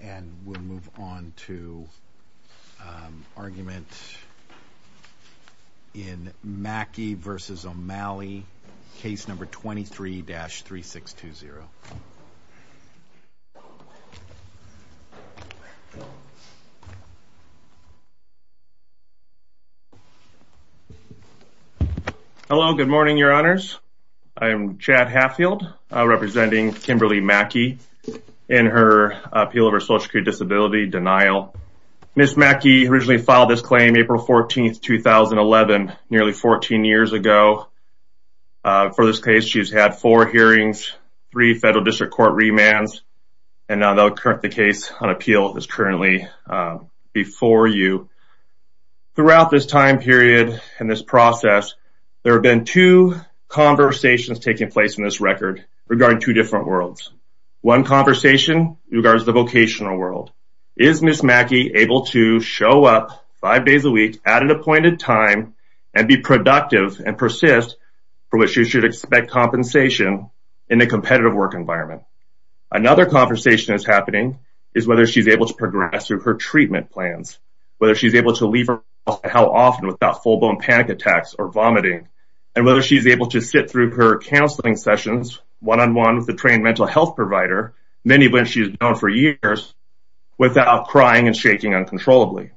And we'll move on to argument in Mackey v. O'Malley, case number 23-3620. Hello, good morning, your honors. I'm Chad Hatfield, representing Kimberly Mackey in her appeal of her social security disability, denial. Ms. Mackey originally filed this claim April 14, 2011, nearly 14 years ago. For this case, she's had four hearings, three federal district court remands, and the case on appeal is currently before you. Throughout this time period and this process, there have been two conversations taking place in this record regarding two different worlds. One conversation regards the vocational world. Is Ms. Mackey able to show up five days a week at an appointed time and be productive and persist for what she should expect compensation in a competitive work environment? Another conversation that's happening is whether she's able to progress through her treatment plans, whether she's able to leave her house and how often without full-blown panic attacks or vomiting, and whether she's able to sit through her counseling sessions one-on-one with a trained mental health provider, many of which she's known for years, without crying and shaking uncontrollably.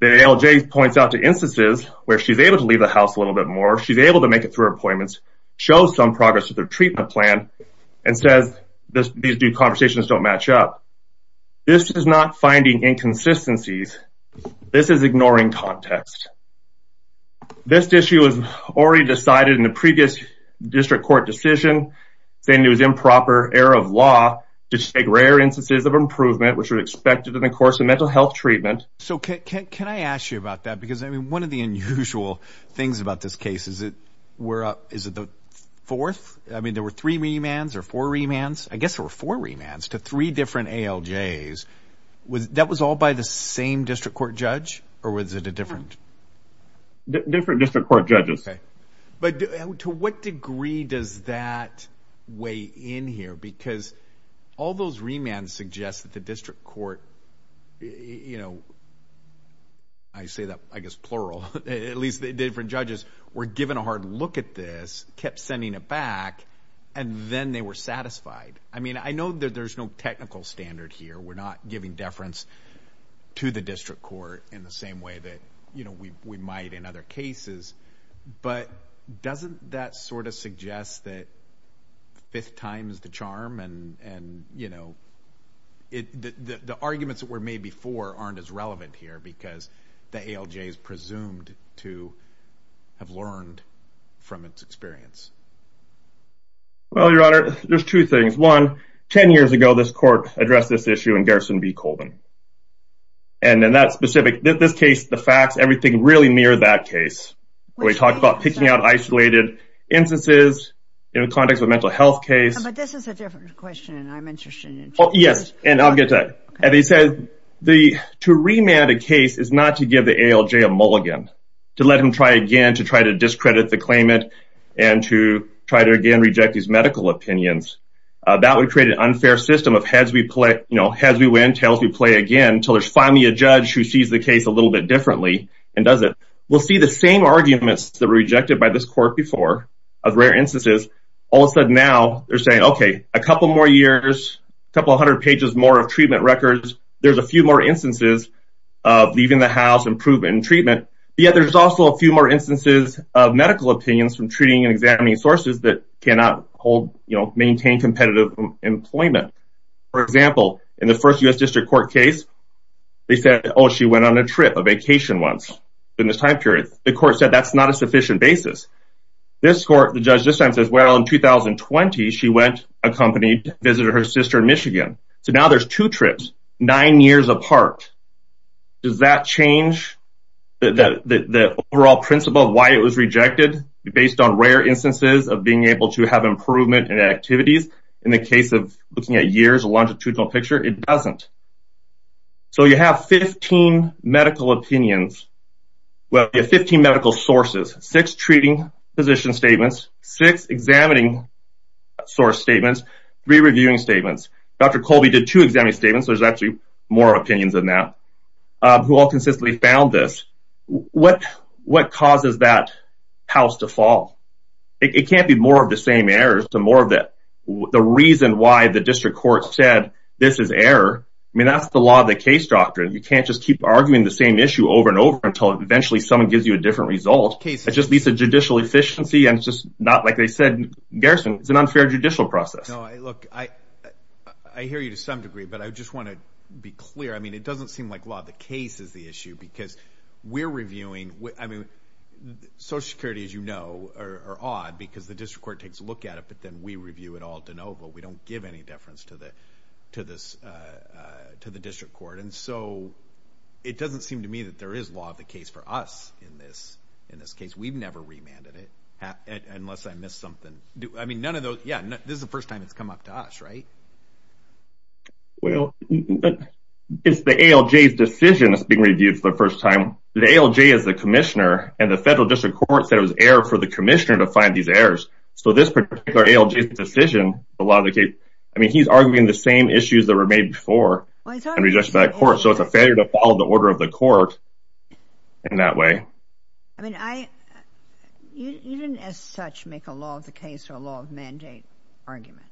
The ALJ points out to instances where she's able to leave the house a little bit more, she's able to make it through her appointments, show some progress with her treatment plan, and says these two conversations don't match up. This is not finding inconsistencies. This is ignoring context. This issue was already decided in the previous district court decision, saying it was improper error of law to take rare instances of improvement which were expected in the course of mental health treatment. So can I ask you about that? Because, I mean, one of the unusual things about this case, is it the fourth? I mean, there were three remands or four remands. I guess there were four remands to three different ALJs. That was all by the same district court judge? Or was it a different? Different district court judges. But to what degree does that weigh in here? Because all those remands suggest that the district court, you know, I say that, I guess, plural, at least the different judges, were given a hard look at this, kept sending it back, and then they were satisfied. I mean, I know that there's no technical standard here. We're not giving deference to the district court in the same way that, you know, we might in other cases. But doesn't that sort of suggest that fifth time is the charm? And, you know, the arguments that were made before aren't as relevant here, because the ALJ is presumed to have learned from its experience. Well, Your Honor, there's two things. One, ten years ago, this court addressed this issue in Garrison v. Colvin. And in that specific case, the facts, everything really mirrored that case. We talked about picking out isolated instances in the context of a mental health case. But this is a different question, and I'm interested in it. Yes, and I'll get to that. And they said to remand a case is not to give the ALJ a mulligan, to let them try again to try to discredit the claimant and to try to, again, reject these medical opinions. That would create an unfair system of heads we win, and tails we play again until there's finally a judge who sees the case a little bit differently and does it. We'll see the same arguments that were rejected by this court before, of rare instances, all of a sudden now they're saying, okay, a couple more years, a couple hundred pages more of treatment records, there's a few more instances of leaving the house and proven treatment. Yet there's also a few more instances of medical opinions from treating and examining sources that cannot hold, you know, maintain competitive employment. For example, in the first U.S. District Court case, they said, oh, she went on a trip, a vacation once in this time period. The court said that's not a sufficient basis. This court, the judge this time says, well, in 2020, she went accompanied, visited her sister in Michigan. So now there's two trips, nine years apart. Does that change the overall principle of why it was rejected based on rare instances of being able to have improvement in activities in the case of looking at years, a longitudinal picture? It doesn't. So you have 15 medical opinions, well, you have 15 medical sources, six treating physician statements, six examining source statements, three reviewing statements. Dr. Colby did two examining statements, so there's actually more opinions than that, who all consistently found this. What causes that house to fall? It can't be more of the same errors to more of the reason why the district court said this is error. I mean, that's the law of the case doctrine. You can't just keep arguing the same issue over and over until eventually someone gives you a different result. It just needs a judicial efficiency and it's just not like they said, Garrison, it's an unfair judicial process. No, look, I hear you to some degree, but I just want to be clear. I mean, it doesn't seem like law of the case is the issue because we're reviewing, I mean, social security, as you know, are odd because the district court takes a look at it, but then we review it all de novo. We don't give any deference to the district court. And so it doesn't seem to me that there is law of the case for us in this case. We've never remanded it unless I missed something. I mean, none of those, yeah, this is the first time it's come up to us, right? Well, it's the ALJ's decision that's being reviewed for the first time. The ALJ is the commissioner and the federal district court said it was error for the commissioner to find these errors. So this particular ALJ's decision, a lot of the cases, I mean, he's arguing the same issues that were made before. So it's a failure to follow the order of the court in that way. I mean, you didn't as such make a law of the case or a law of mandate argument.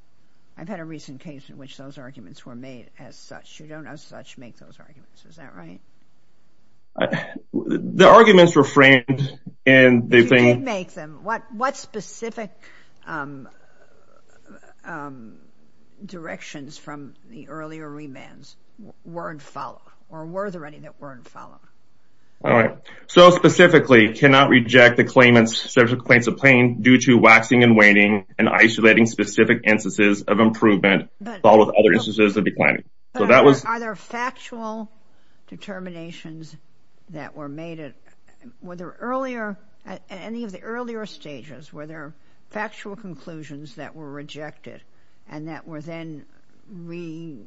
I've had a recent case in which those arguments were made as such. You don't as such make those arguments. Is that right? The arguments were framed. You did make them. What specific directions from the earlier remands were in follow? Or were there any that were in follow? All right. So specifically, cannot reject the claims of claim due to waxing and Not all. In all instances of improvement, all of other instances of declining. So that was either factual determinations that were made at, were there earlier at any of the earlier stages where there are factual conclusions that were rejected and that were then. We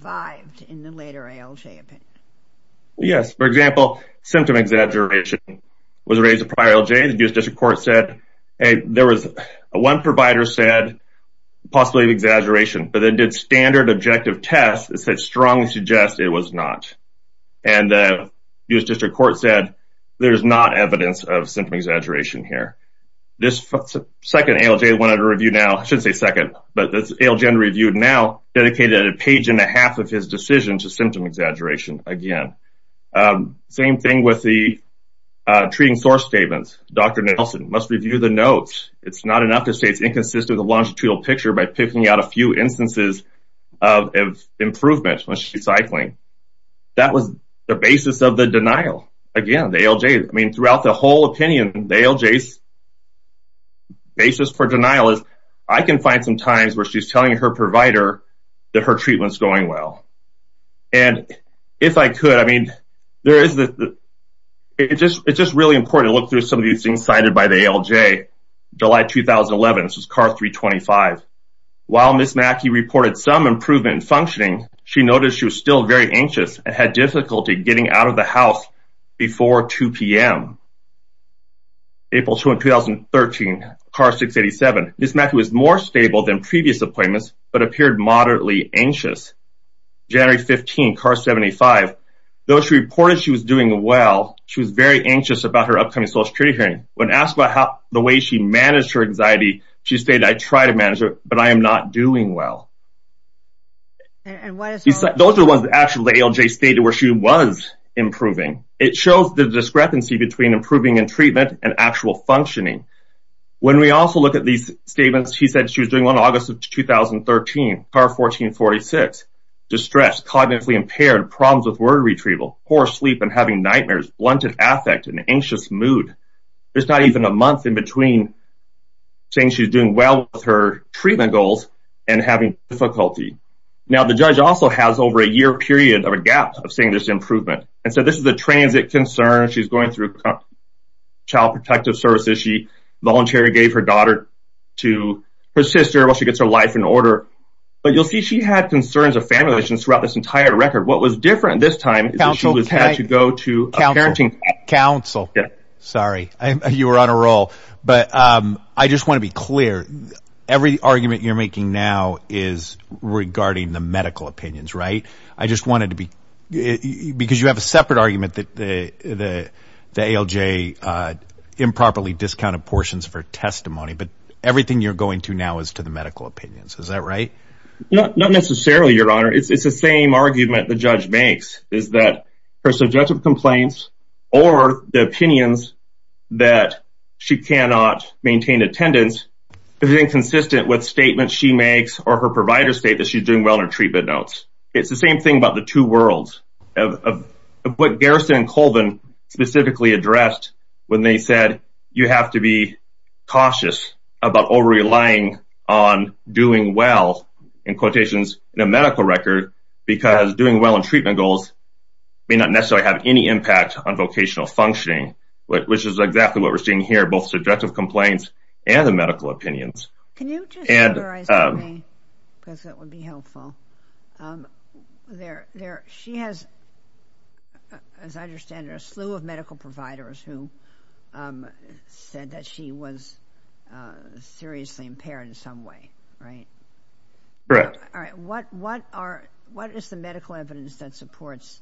five in the later ALJ. Yes, for example, symptom exaggeration was raised a prior ALJ. The US District Court said there was, one provider said possibly an exaggeration, but then did standard objective tests that strongly suggest it was not. And the US District Court said there's not evidence of symptom exaggeration here. This second ALJ went under review now, I shouldn't say second, but this ALJ reviewed now dedicated a page and a half of his decision to symptom exaggeration again. Same thing with the treating source statements. Nelson must review the notes. It's not enough to say it's inconsistent with the longitudinal picture by picking out a few instances of improvement when she's cycling. That was the basis of the denial. Again, the ALJ, I mean, throughout the whole opinion, the ALJ's basis for denial is I can find some times where she's telling her provider that her treatment's going well. And if I could, I mean, there is the, it's just, it's just really important to look through some of these things cited by the ALJ. July, 2011, this was CAR 325. While Ms. Mackey reported some improvement in functioning, she noticed she was still very anxious and had difficulty getting out of the house before 2 p.m. April, 2013, CAR 687. Ms. Mackey was more stable than previous appointments, but appeared moderately anxious. January, 2015, CAR 75. Though she reported she was doing well, she was very anxious about her upcoming Social Security hearing. When asked about how, the way she managed her anxiety, she stated, I tried to manage it, but I am not doing well. Those are the ones that actually ALJ stated where she was improving. It shows the discrepancy between improving in treatment and actual functioning. When we also look at these statements, she said she was doing well in August of 2013, CAR 1446. Distressed, cognitively impaired, problems with word retrieval, poor sleep and having nightmares, blunted affect and anxious mood. There's not even a month in between saying she's doing well with her treatment goals and having difficulty. Now the judge also has over a year period of a gap of saying there's improvement. And so this is a transit concern. She's going through Child Protective Services. She voluntarily gave her daughter to her sister while she gets her life in order. But you'll see she had concerns of family relations throughout this entire record. What was different this time is that she had to go to a parenting counsel. Sorry. You were on a roll. But I just want to be clear. Every argument you're making now is regarding the medical opinions, right? I just wanted to be, because you have a separate argument that the ALJ improperly discounted portions for testimony. But everything you're going to now is to the medical opinions. Is that right? Not necessarily, Your Honor. It's the same argument the judge makes is that her subjective complaints or the opinions that she cannot maintain attendance is inconsistent with statements she makes or her providers state that she's doing well in her treatment notes. It's the same thing about the two worlds of what Garrison and Colvin specifically addressed when they said you have to be cautious about over-relying on doing well, in quotations, in a medical record because doing well in treatment goals may not necessarily have any impact on vocational functioning, which is exactly what we're seeing here, both subjective complaints and the medical opinions. Can you just close your eyes for me? Because that would be helpful. She has, as I understand it, a slew of medical providers who said that she was seriously impaired in some way, right? Correct. All right. What is the medical evidence that supports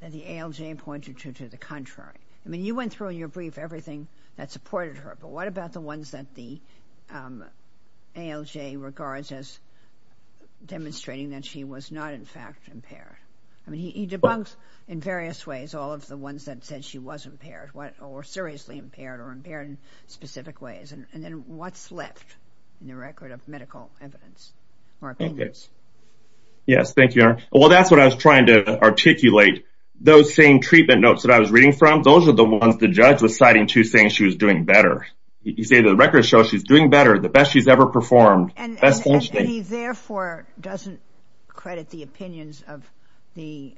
that the ALJ pointed to the contrary? I mean, you went through in your brief everything that supported her, but what about the ones that the ALJ regards as demonstrating that she was not, in fact, impaired? I mean, he debunks in various ways all of the ones that said she was impaired or seriously impaired or impaired in specific ways. And then what's left in the record of medical evidence or opinions? Yes. Thank you, Erin. Well, that's what I was trying to articulate. Those same treatment notes that I was reading from, those are the ones the judge was citing to saying she was doing better. You say the record shows she's doing better, the best she's ever performed. And he, therefore, doesn't credit the opinions of the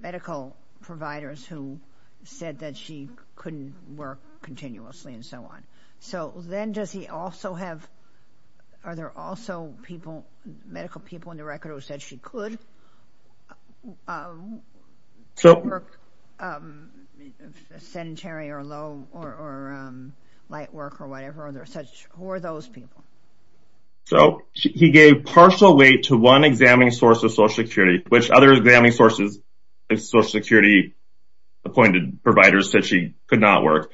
medical providers who said that she couldn't work continuously and so on. So then does he also have, are there also people, medical people in the record who said she could work sedentary or low or light work or whatever? Who are those people? So he gave partial weight to one examining source of Social Security, which other examining sources of Social Security-appointed providers said she could not work.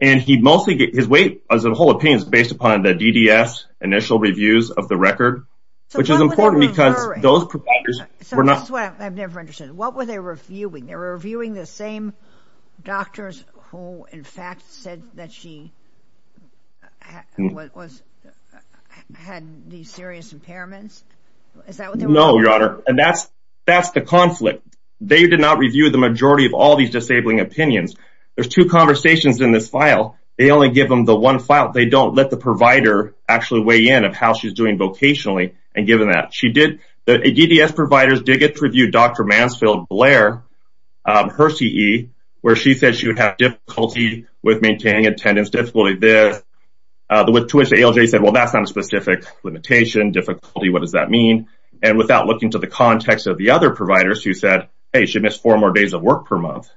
And his weight as a whole opinion is based upon the DDS initial reviews of the record, which is important because those providers were not. So this is what I've never understood. What were they reviewing? They were reviewing the same doctors who, in fact, said that she had these serious impairments? Is that what they were reviewing? No, Your Honor. And that's the conflict. They did not review the majority of all these disabling opinions. There's two conversations in this file. They only give them the one file. They don't let the provider actually weigh in of how she's doing vocationally and give them that. The DDS providers did get to review Dr. Mansfield-Blair, her CE, where she said she would have difficulty with maintaining attendance, difficulty with this, with tuition. ALJ said, well, that's not a specific limitation. Difficulty, what does that mean? And without looking to the context of the other providers who said, hey, she missed four more days of work per month.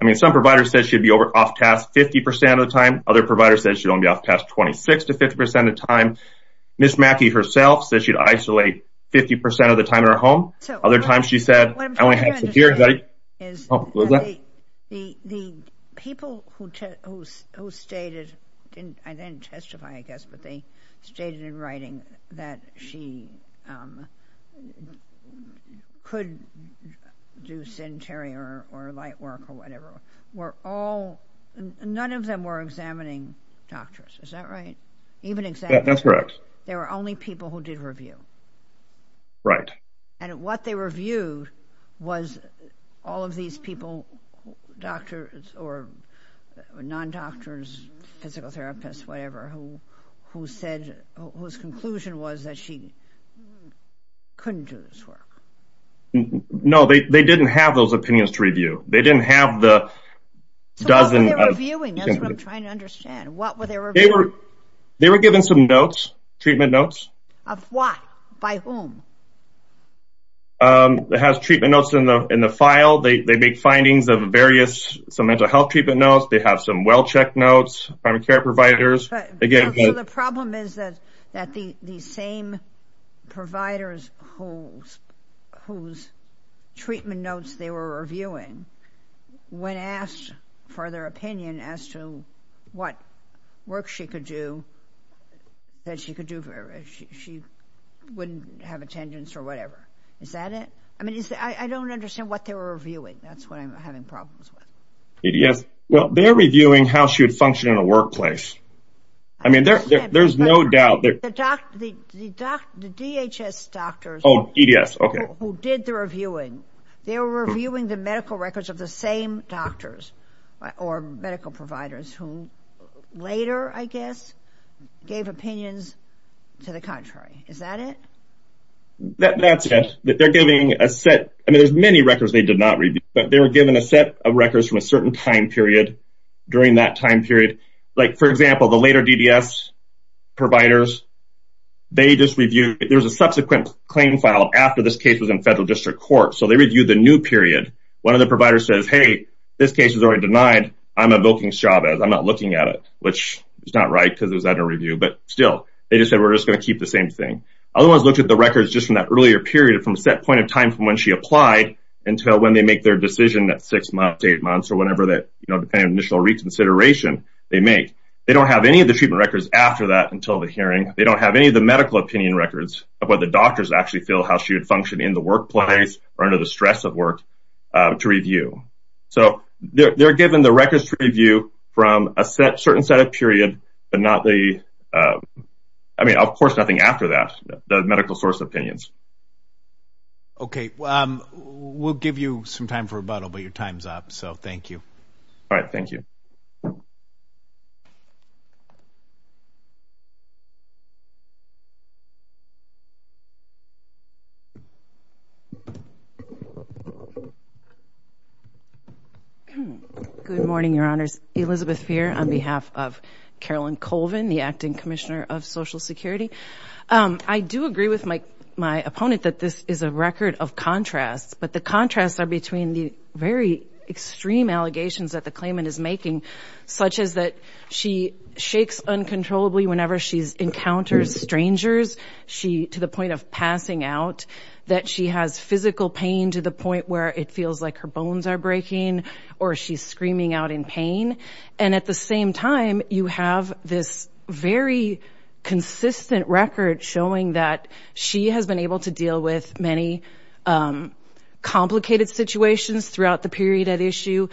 I mean, some providers said she'd be off task 50% of the time. Other providers said she'd only be off task 26 to 50% of the time. Ms. Mackey herself said she'd isolate 50% of the time in her home. Other times she said, I only have two years. The people who stated, I didn't testify, I guess, but they stated in writing that she could do centering or light work or whatever were all, none of them were examining doctors. Is that right? Even examining. That's correct. There were only people who did review. Right. And what they reviewed was all of these people, doctors or non-doctors, physical therapists, whatever, who said, whose conclusion was that she couldn't do this work. No, they didn't have those opinions to review. They didn't have the dozen. So what were they reviewing? That's what I'm trying to understand. What were they reviewing? They were given some notes, treatment notes. Of what? By whom? It has treatment notes in the file. They make findings of various, some mental health treatment notes. They have some well-checked notes, primary care providers. So the problem is that the same providers whose treatment notes they were reviewing, when asked for their opinion as to what work she could do, that she wouldn't have attendance or whatever. Is that it? I mean, I don't understand what they were reviewing. That's what I'm having problems with. Well, they're reviewing how she would function in a workplace. I mean, there's no doubt. The DHS doctors. Oh, EDS, okay. Who did the reviewing. They were reviewing the medical records of the same doctors or medical providers who later, I guess, gave opinions to the contrary. Is that it? That's it. They're giving a set. I mean, there's many records they did not review, but they were given a set of records from a certain time period during that time period. Like, for example, the later DDS providers, they just reviewed. There was a subsequent claim filed after this case was in federal district court, so they reviewed the new period. One of the providers says, hey, this case is already denied. I'm evoking Chavez. I'm not looking at it, which is not right because it was under review. But still, they just said, we're just going to keep the same thing. Other ones looked at the records just from that earlier period, from a set point in time from when she applied until when they make their decision at six months, eight months, or whenever that, you know, depending on initial reconsideration they make. They don't have any of the treatment records after that until the hearing. They don't have any of the medical opinion records of whether doctors actually feel how she would function in the workplace or under the stress of work to review. So they're given the records to review from a certain set of period, but not the, I mean, of course nothing after that, the medical source opinions. Okay. We'll give you some time for rebuttal, but your time's up. So thank you. All right. Thank you. Good morning, Your Honors. Elizabeth Peer on behalf of Carolyn Colvin, the Acting Commissioner of Social Security. I do agree with my opponent that this is a record of contrasts, but the contrasts are between the very extreme allegations that the claimant is making, such as that she shakes uncontrollably whenever she encounters strangers to the point of passing out, that she has physical pain to the point where it feels like her bones are breaking or she's screaming out in pain. And at the same time, you have this very consistent record showing that she has been able to deal with many complicated situations throughout the period at issue.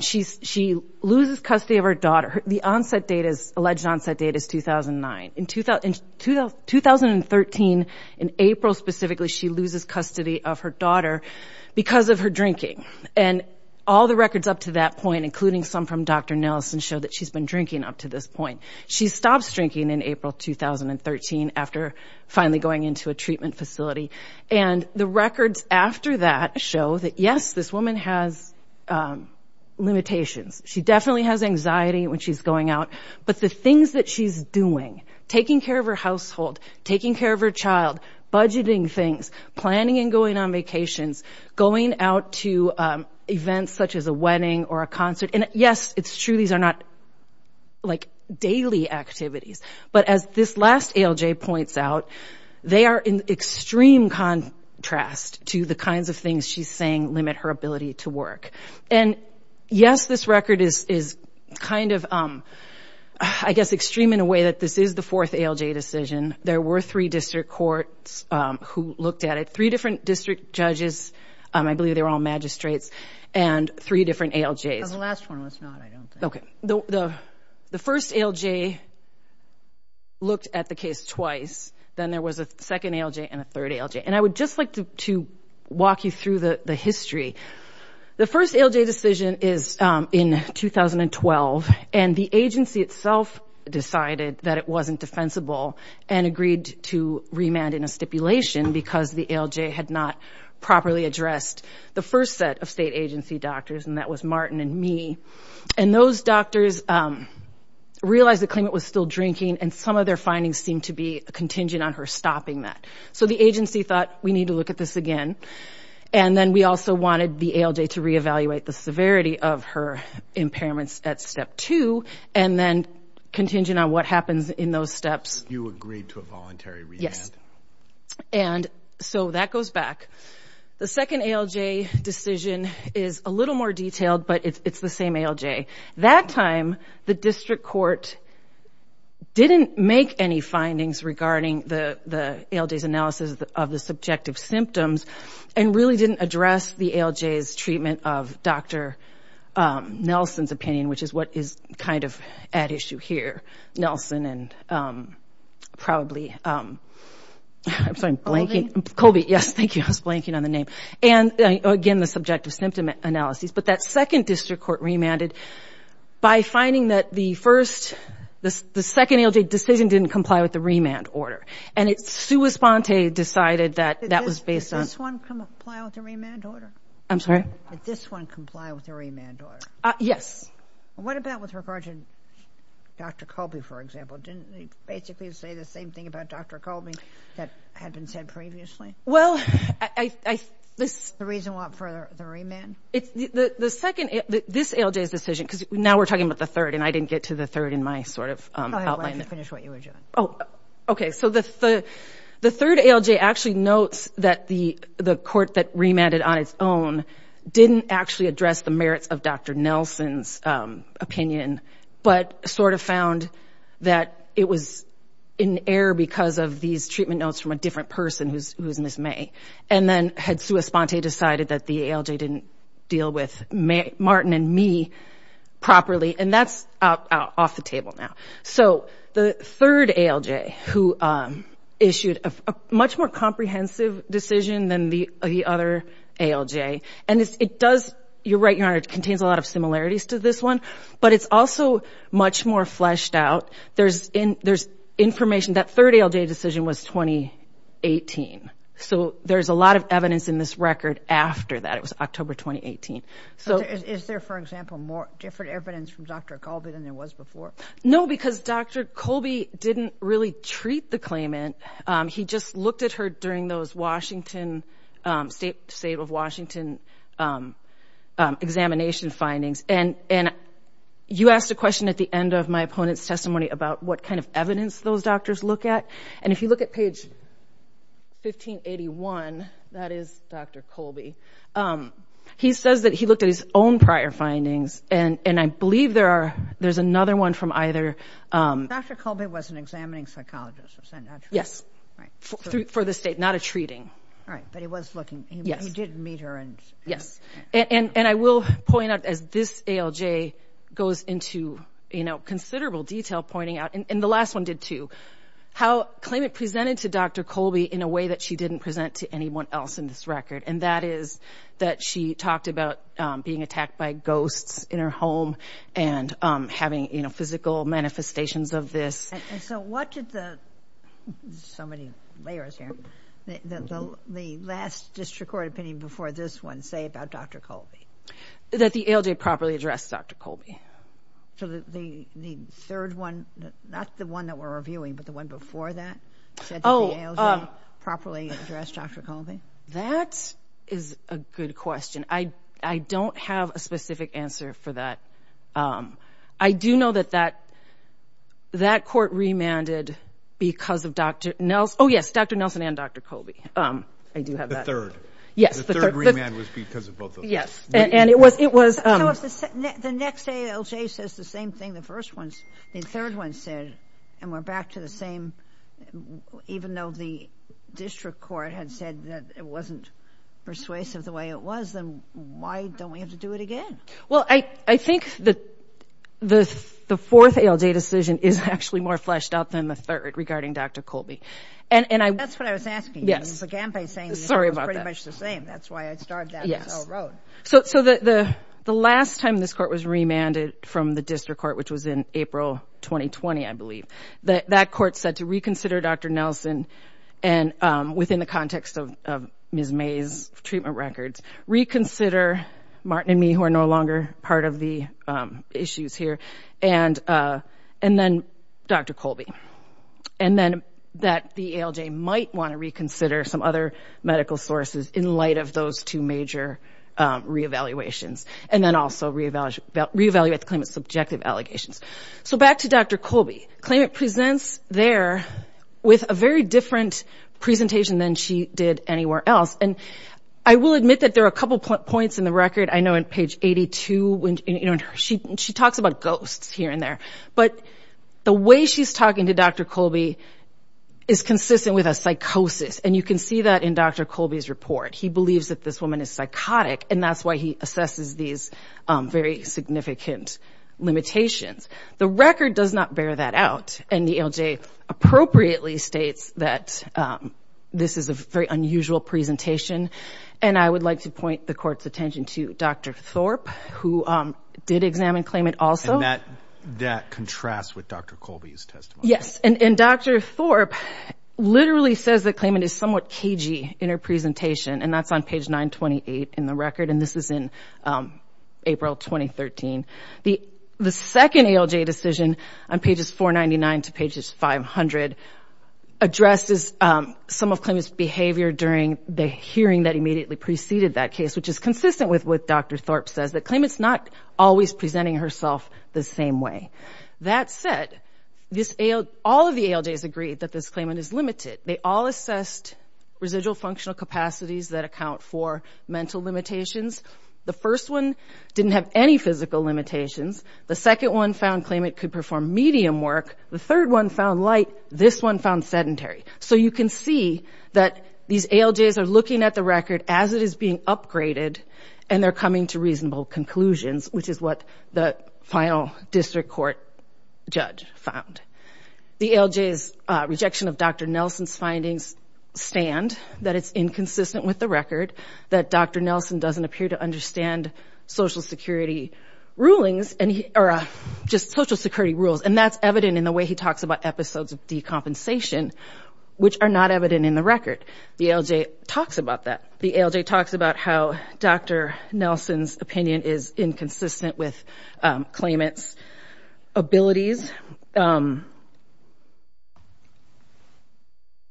She loses custody of her daughter. The alleged onset date is 2009. In 2013, in April specifically, she loses custody of her daughter because of her drinking. And all the records up to that point, including some from Dr. Nelson, show that she's been drinking up to this point. She stops drinking in April 2013 after finally going into a treatment facility. And the records after that show that, yes, this woman has limitations. She definitely has anxiety when she's going out, but the things that she's doing, taking care of her household, taking care of her child, budgeting things, planning and going on vacations, going out to events such as a wedding or a concert. And, yes, it's true these are not, like, daily activities, but as this last ALJ points out, they are in extreme contrast to the kinds of things she's saying limit her ability to work. And, yes, this record is kind of, I guess, extreme in a way that this is the fourth ALJ decision. There were three district courts who looked at it, three different district judges. I believe they were all magistrates. And three different ALJs. The last one was not, I don't think. Okay. The first ALJ looked at the case twice. Then there was a second ALJ and a third ALJ. And I would just like to walk you through the history. The first ALJ decision is in 2012, and the agency itself decided that it wasn't defensible and agreed to remand in a stipulation because the ALJ had not properly addressed the first set of state agency doctors, and that was Martin and me. And those doctors realized the claimant was still drinking, and some of their findings seemed to be contingent on her stopping that. So the agency thought, we need to look at this again. And then we also wanted the ALJ to reevaluate the severity of her impairments at step two and then contingent on what happens in those steps. You agreed to a voluntary remand. Yes. And so that goes back. The second ALJ decision is a little more detailed, but it's the same ALJ. That time the district court didn't make any findings regarding the ALJ's analysis of the subjective symptoms and really didn't address the ALJ's treatment of Dr. Nelson's opinion, which is what is kind of at issue here. Dr. Nelson and probably, I'm sorry, blanking. Colby, yes, thank you. I was blanking on the name. And, again, the subjective symptom analysis. But that second district court remanded by finding that the first, the second ALJ decision didn't comply with the remand order. And it sui sponte decided that that was based on. Did this one comply with the remand order? I'm sorry? Did this one comply with the remand order? Yes. What about with regard to Dr. Colby, for example? Didn't they basically say the same thing about Dr. Colby that had been said previously? Well, I... The reason for the remand? The second... This ALJ's decision, because now we're talking about the third, and I didn't get to the third in my sort of outline. Go ahead. Let me finish what you were doing. Oh, okay. So the third ALJ actually notes that the court that remanded on its own didn't actually address the merits of Dr. Nelson's opinion, but sort of found that it was in error because of these treatment notes from a different person who's Ms. May. And then had sui sponte decided that the ALJ didn't deal with Martin and me properly. And that's off the table now. So the third ALJ, who issued a much more comprehensive decision than the other ALJ, and it does, you're right, Your Honor, contains a lot of similarities to this one, but it's also much more fleshed out. There's information that third ALJ decision was 2018. So there's a lot of evidence in this record after that. It was October 2018. Is there, for example, more different evidence from Dr. Colby than there was before? No, because Dr. Colby didn't really treat the claimant. He just looked at her during those state of Washington examination findings. And you asked a question at the end of my opponent's testimony about what kind of evidence those doctors look at. And if you look at page 1581, that is Dr. Colby, he says that he looked at his own prior findings, and I believe there's another one from either. Dr. Colby was an examining psychologist, was that not true? Yes, for the state, not a treating. All right, but he was looking. He did meet her. Yes, and I will point out, as this ALJ goes into considerable detail pointing out, and the last one did too, how the claimant presented to Dr. Colby in a way that she didn't present to anyone else in this record, and that is that she talked about being attacked by ghosts in her home and having physical manifestations of this. And so what did the, there's so many layers here, the last district court opinion before this one say about Dr. Colby? That the ALJ properly addressed Dr. Colby. So the third one, not the one that we're reviewing, but the one before that, said that the ALJ properly addressed Dr. Colby? That is a good question. I don't have a specific answer for that. I do know that that court remanded because of Dr. Nelson, oh yes, Dr. Nelson and Dr. Colby. I do have that. Yes, the third. The third remand was because of both of them. Yes, and it was. The next ALJ says the same thing the first one, the third one said, and we're back to the same, even though the district court had said that it wasn't persuasive the way it was, then why don't we have to do it again? Well, I think the fourth ALJ decision is actually more fleshed out than the third regarding Dr. Colby. That's what I was asking. Yes. You began by saying it was pretty much the same. That's why I started that. Yes. So the last time this court was remanded from the district court, which was in April 2020, I believe, that court said to reconsider Dr. Nelson and within the context of Ms. May's treatment records, reconsider Martin and me who are no longer part of the issues here, and then Dr. Colby, and then that the ALJ might want to reconsider some other medical sources in light of those two major re-evaluations, and then also re-evaluate the claimant's subjective allegations. So back to Dr. Colby. The claimant presents there with a very different presentation than she did anywhere else, and I will admit that there are a couple points in the record. I know on page 82, she talks about ghosts here and there, but the way she's talking to Dr. Colby is consistent with a psychosis, and you can see that in Dr. Colby's report. He believes that this woman is psychotic, and that's why he assesses these very significant limitations. The record does not bear that out, and the ALJ appropriately states that this is a very unusual presentation, and I would like to point the court's attention to Dr. Thorpe, who did examine claimant also. And that contrasts with Dr. Colby's testimony. Yes, and Dr. Thorpe literally says the claimant is somewhat cagey in her presentation, and that's on page 928 in the record, and this is in April 2013. The second ALJ decision on pages 499 to pages 500 addresses some of claimant's behavior during the hearing that immediately preceded that case, which is consistent with what Dr. Thorpe says, that claimant's not always presenting herself the same way. That said, all of the ALJs agreed that this claimant is limited. They all assessed residual functional capacities that account for mental limitations. The first one didn't have any physical limitations. The second one found claimant could perform medium work. The third one found light. This one found sedentary. So you can see that these ALJs are looking at the record as it is being upgraded, and they're coming to reasonable conclusions, which is what the final district court judge found. The ALJ's rejection of Dr. Nelson's findings stand that it's inconsistent with the record, that Dr. Nelson doesn't appear to understand Social Security rulings, or just Social Security rules, and that's evident in the way he talks about episodes of decompensation, which are not evident in the record. The ALJ talks about that. The ALJ talks about how Dr. Nelson's opinion is inconsistent with claimant's abilities, and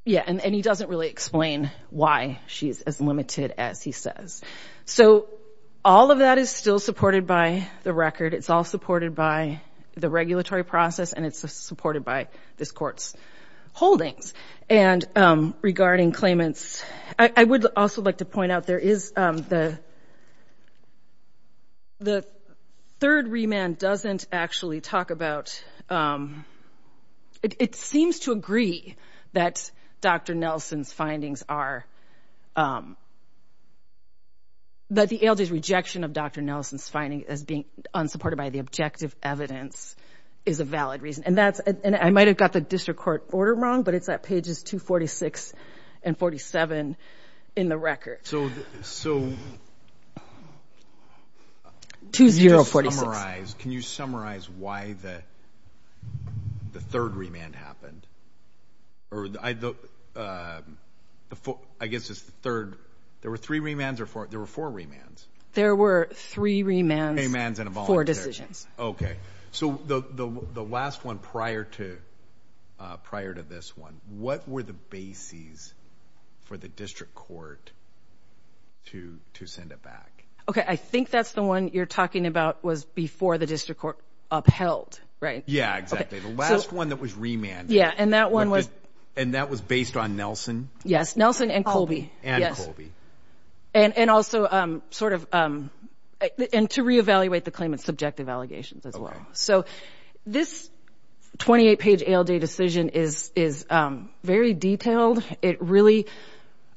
he doesn't really explain why she's as limited as he says. So all of that is still supported by the record. It's all supported by the regulatory process, and it's supported by this court's holdings. And regarding claimants, I would also like to point out, there is the third remand doesn't actually talk about, it seems to agree that Dr. Nelson's findings are, that the ALJ's rejection of Dr. Nelson's finding as being unsupported by the objective evidence is a valid reason. And I might have got the district court order wrong, but it's at pages 246 and 47 in the record. So can you summarize why the third remand happened? I guess it's the third. There were three remands or four? There were four remands. There were three remands and four decisions. Okay. So the last one prior to this one, what were the bases for the district court to send it back? Okay, I think that's the one you're talking about was before the district court upheld, right? Yeah, exactly. The last one that was remanded. Yeah, and that one was? And that was based on Nelson? Yes, Nelson and Colby. And Colby. So this 28-page ALJ decision is very detailed. It really,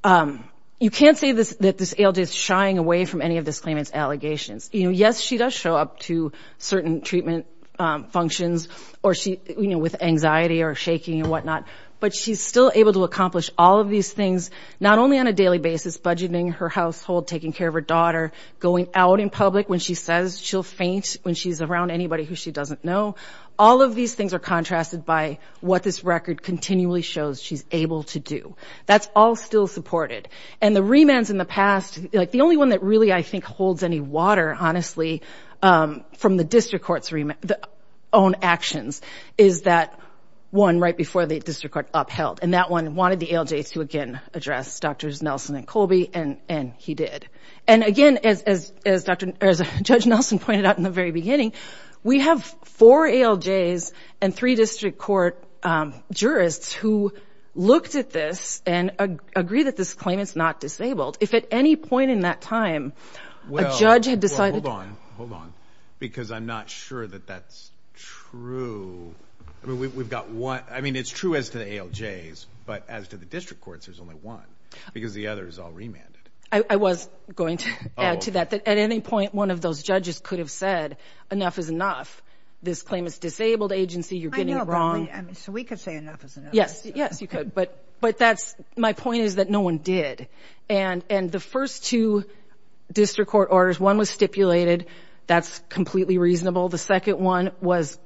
you can't say that this ALJ is shying away from any of this claimant's allegations. Yes, she does show up to certain treatment functions with anxiety or shaking and whatnot, but she's still able to accomplish all of these things, not only on a daily basis, budgeting her household, taking care of her daughter, going out in public when she says she'll faint when she's around anybody who she doesn't know. All of these things are contrasted by what this record continually shows she's able to do. That's all still supported. And the remands in the past, like the only one that really, I think, holds any water, honestly, from the district court's own actions, is that one right before the district court upheld. And that one wanted the ALJ to, again, address Drs. Nelson and Colby, and he did. And, again, as Judge Nelson pointed out in the very beginning, we have four ALJs and three district court jurists who looked at this and agree that this claimant's not disabled. If at any point in that time a judge had decided to do that. Well, hold on, hold on, because I'm not sure that that's true. I mean, we've got one. I mean, it's true as to the ALJs, but as to the district courts, there's only one, because the other is all remanded. I was going to add to that. At any point, one of those judges could have said, enough is enough. This claimant's a disabled agency. You're getting it wrong. I know, but we could say enough is enough. Yes, yes, you could. But my point is that no one did. And the first two district court orders, one was stipulated. That's completely reasonable. The second one was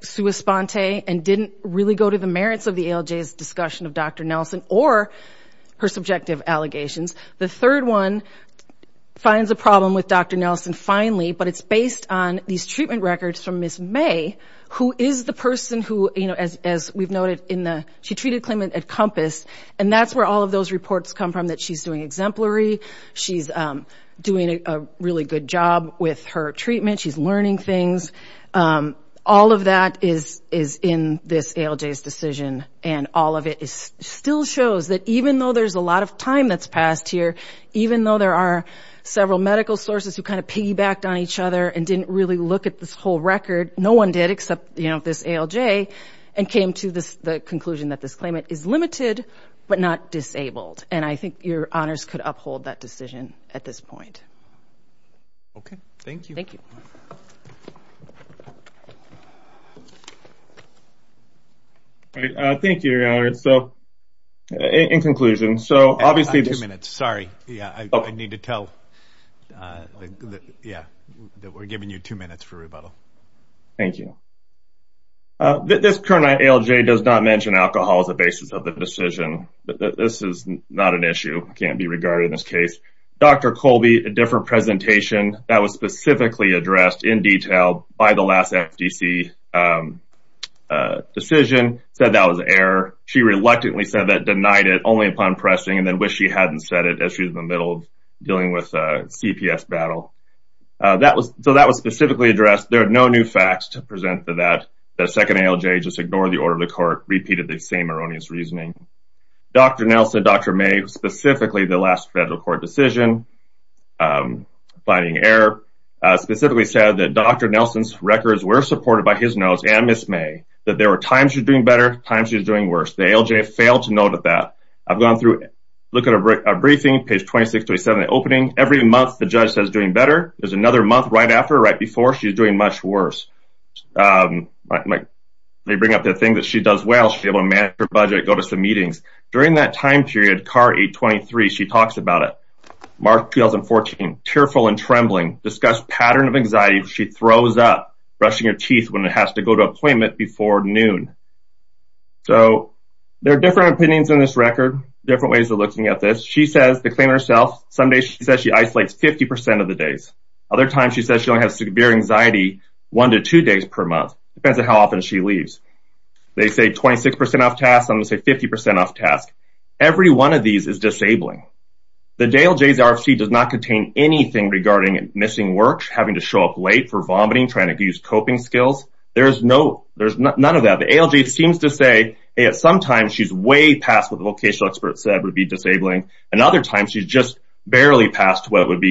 sui sponte and didn't really go to the merits of the ALJ's discussion of Dr. Nelson or her subjective allegations. The third one finds a problem with Dr. Nelson finally, but it's based on these treatment records from Ms. May, who is the person who, as we've noted, she treated a claimant at Compass, and that's where all of those reports come from, that she's doing exemplary. She's doing a really good job with her treatment. She's learning things. All of that is in this ALJ's decision, and all of it still shows that even though there's a lot of time that's passed here, even though there are several medical sources who kind of piggybacked on each other and didn't really look at this whole record, no one did except, you know, this ALJ and came to the conclusion that this claimant is limited but not disabled. And I think your honors could uphold that decision at this point. Okay. Thank you. All right. Thank you, your honors. So in conclusion, so obviously this. Yeah, I need to tell. Yeah, we're giving you two minutes for rebuttal. Thank you. This current ALJ does not mention alcohol as a basis of the decision. This is not an issue. It can't be regarded in this case. Dr. Colby, a different presentation that was specifically addressed in detail by the last FDC decision, said that was error. She reluctantly said that, denied it only upon pressing, and then wished she hadn't said it as she was in the middle of dealing with a CPS battle. So that was specifically addressed. There are no new facts to present to that. The second ALJ just ignored the order of the court, repeated the same erroneous reasoning. Dr. Nelson, Dr. May, specifically the last federal court decision, finding error, specifically said that Dr. Nelson's records were supported by his notes and Ms. May, that there were times she was doing better, times she was doing worse. The ALJ failed to note that. I've gone through, look at our briefing, page 26-27, the opening. Every month the judge says doing better. There's another month right after, right before, she's doing much worse. They bring up the thing that she does well. She's able to manage her budget, go to some meetings. During that time period, car 823, she talks about it. March 2014, tearful and trembling, discussed pattern of anxiety. She throws up, brushing her teeth when it has to go to appointment before noon. So there are different opinions on this record, different ways of looking at this. She says, to claim herself, some days she says she isolates 50% of the days. Other times she says she only has severe anxiety one to two days per month, depends on how often she leaves. They say 26% off tasks. I'm going to say 50% off tasks. Every one of these is disabling. The ALJ's RFC does not contain anything regarding missing work, having to show up late for vomiting, trying to use coping skills. There's none of that. The ALJ seems to say sometimes she's way past what the vocational expert said would be disabling. And other times she's just barely past what would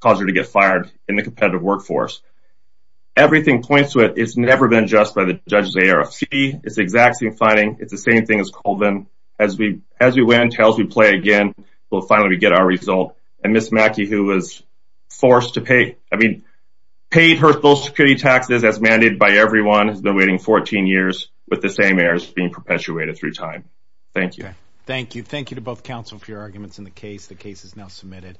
cause her to get fired in the competitive workforce. Everything points to it. It's never been addressed by the judge's ARFC. It's the exact same finding. It's the same thing as Colvin. As we win, as we play again, we'll finally get our result. And Ms. Mackey, who was forced to pay, I mean, paid her Social Security taxes as mandated by everyone, has been waiting 14 years with the same errors being perpetuated through time. Thank you. Thank you. Thank you to both counsel for your arguments in the case. The case is now submitted.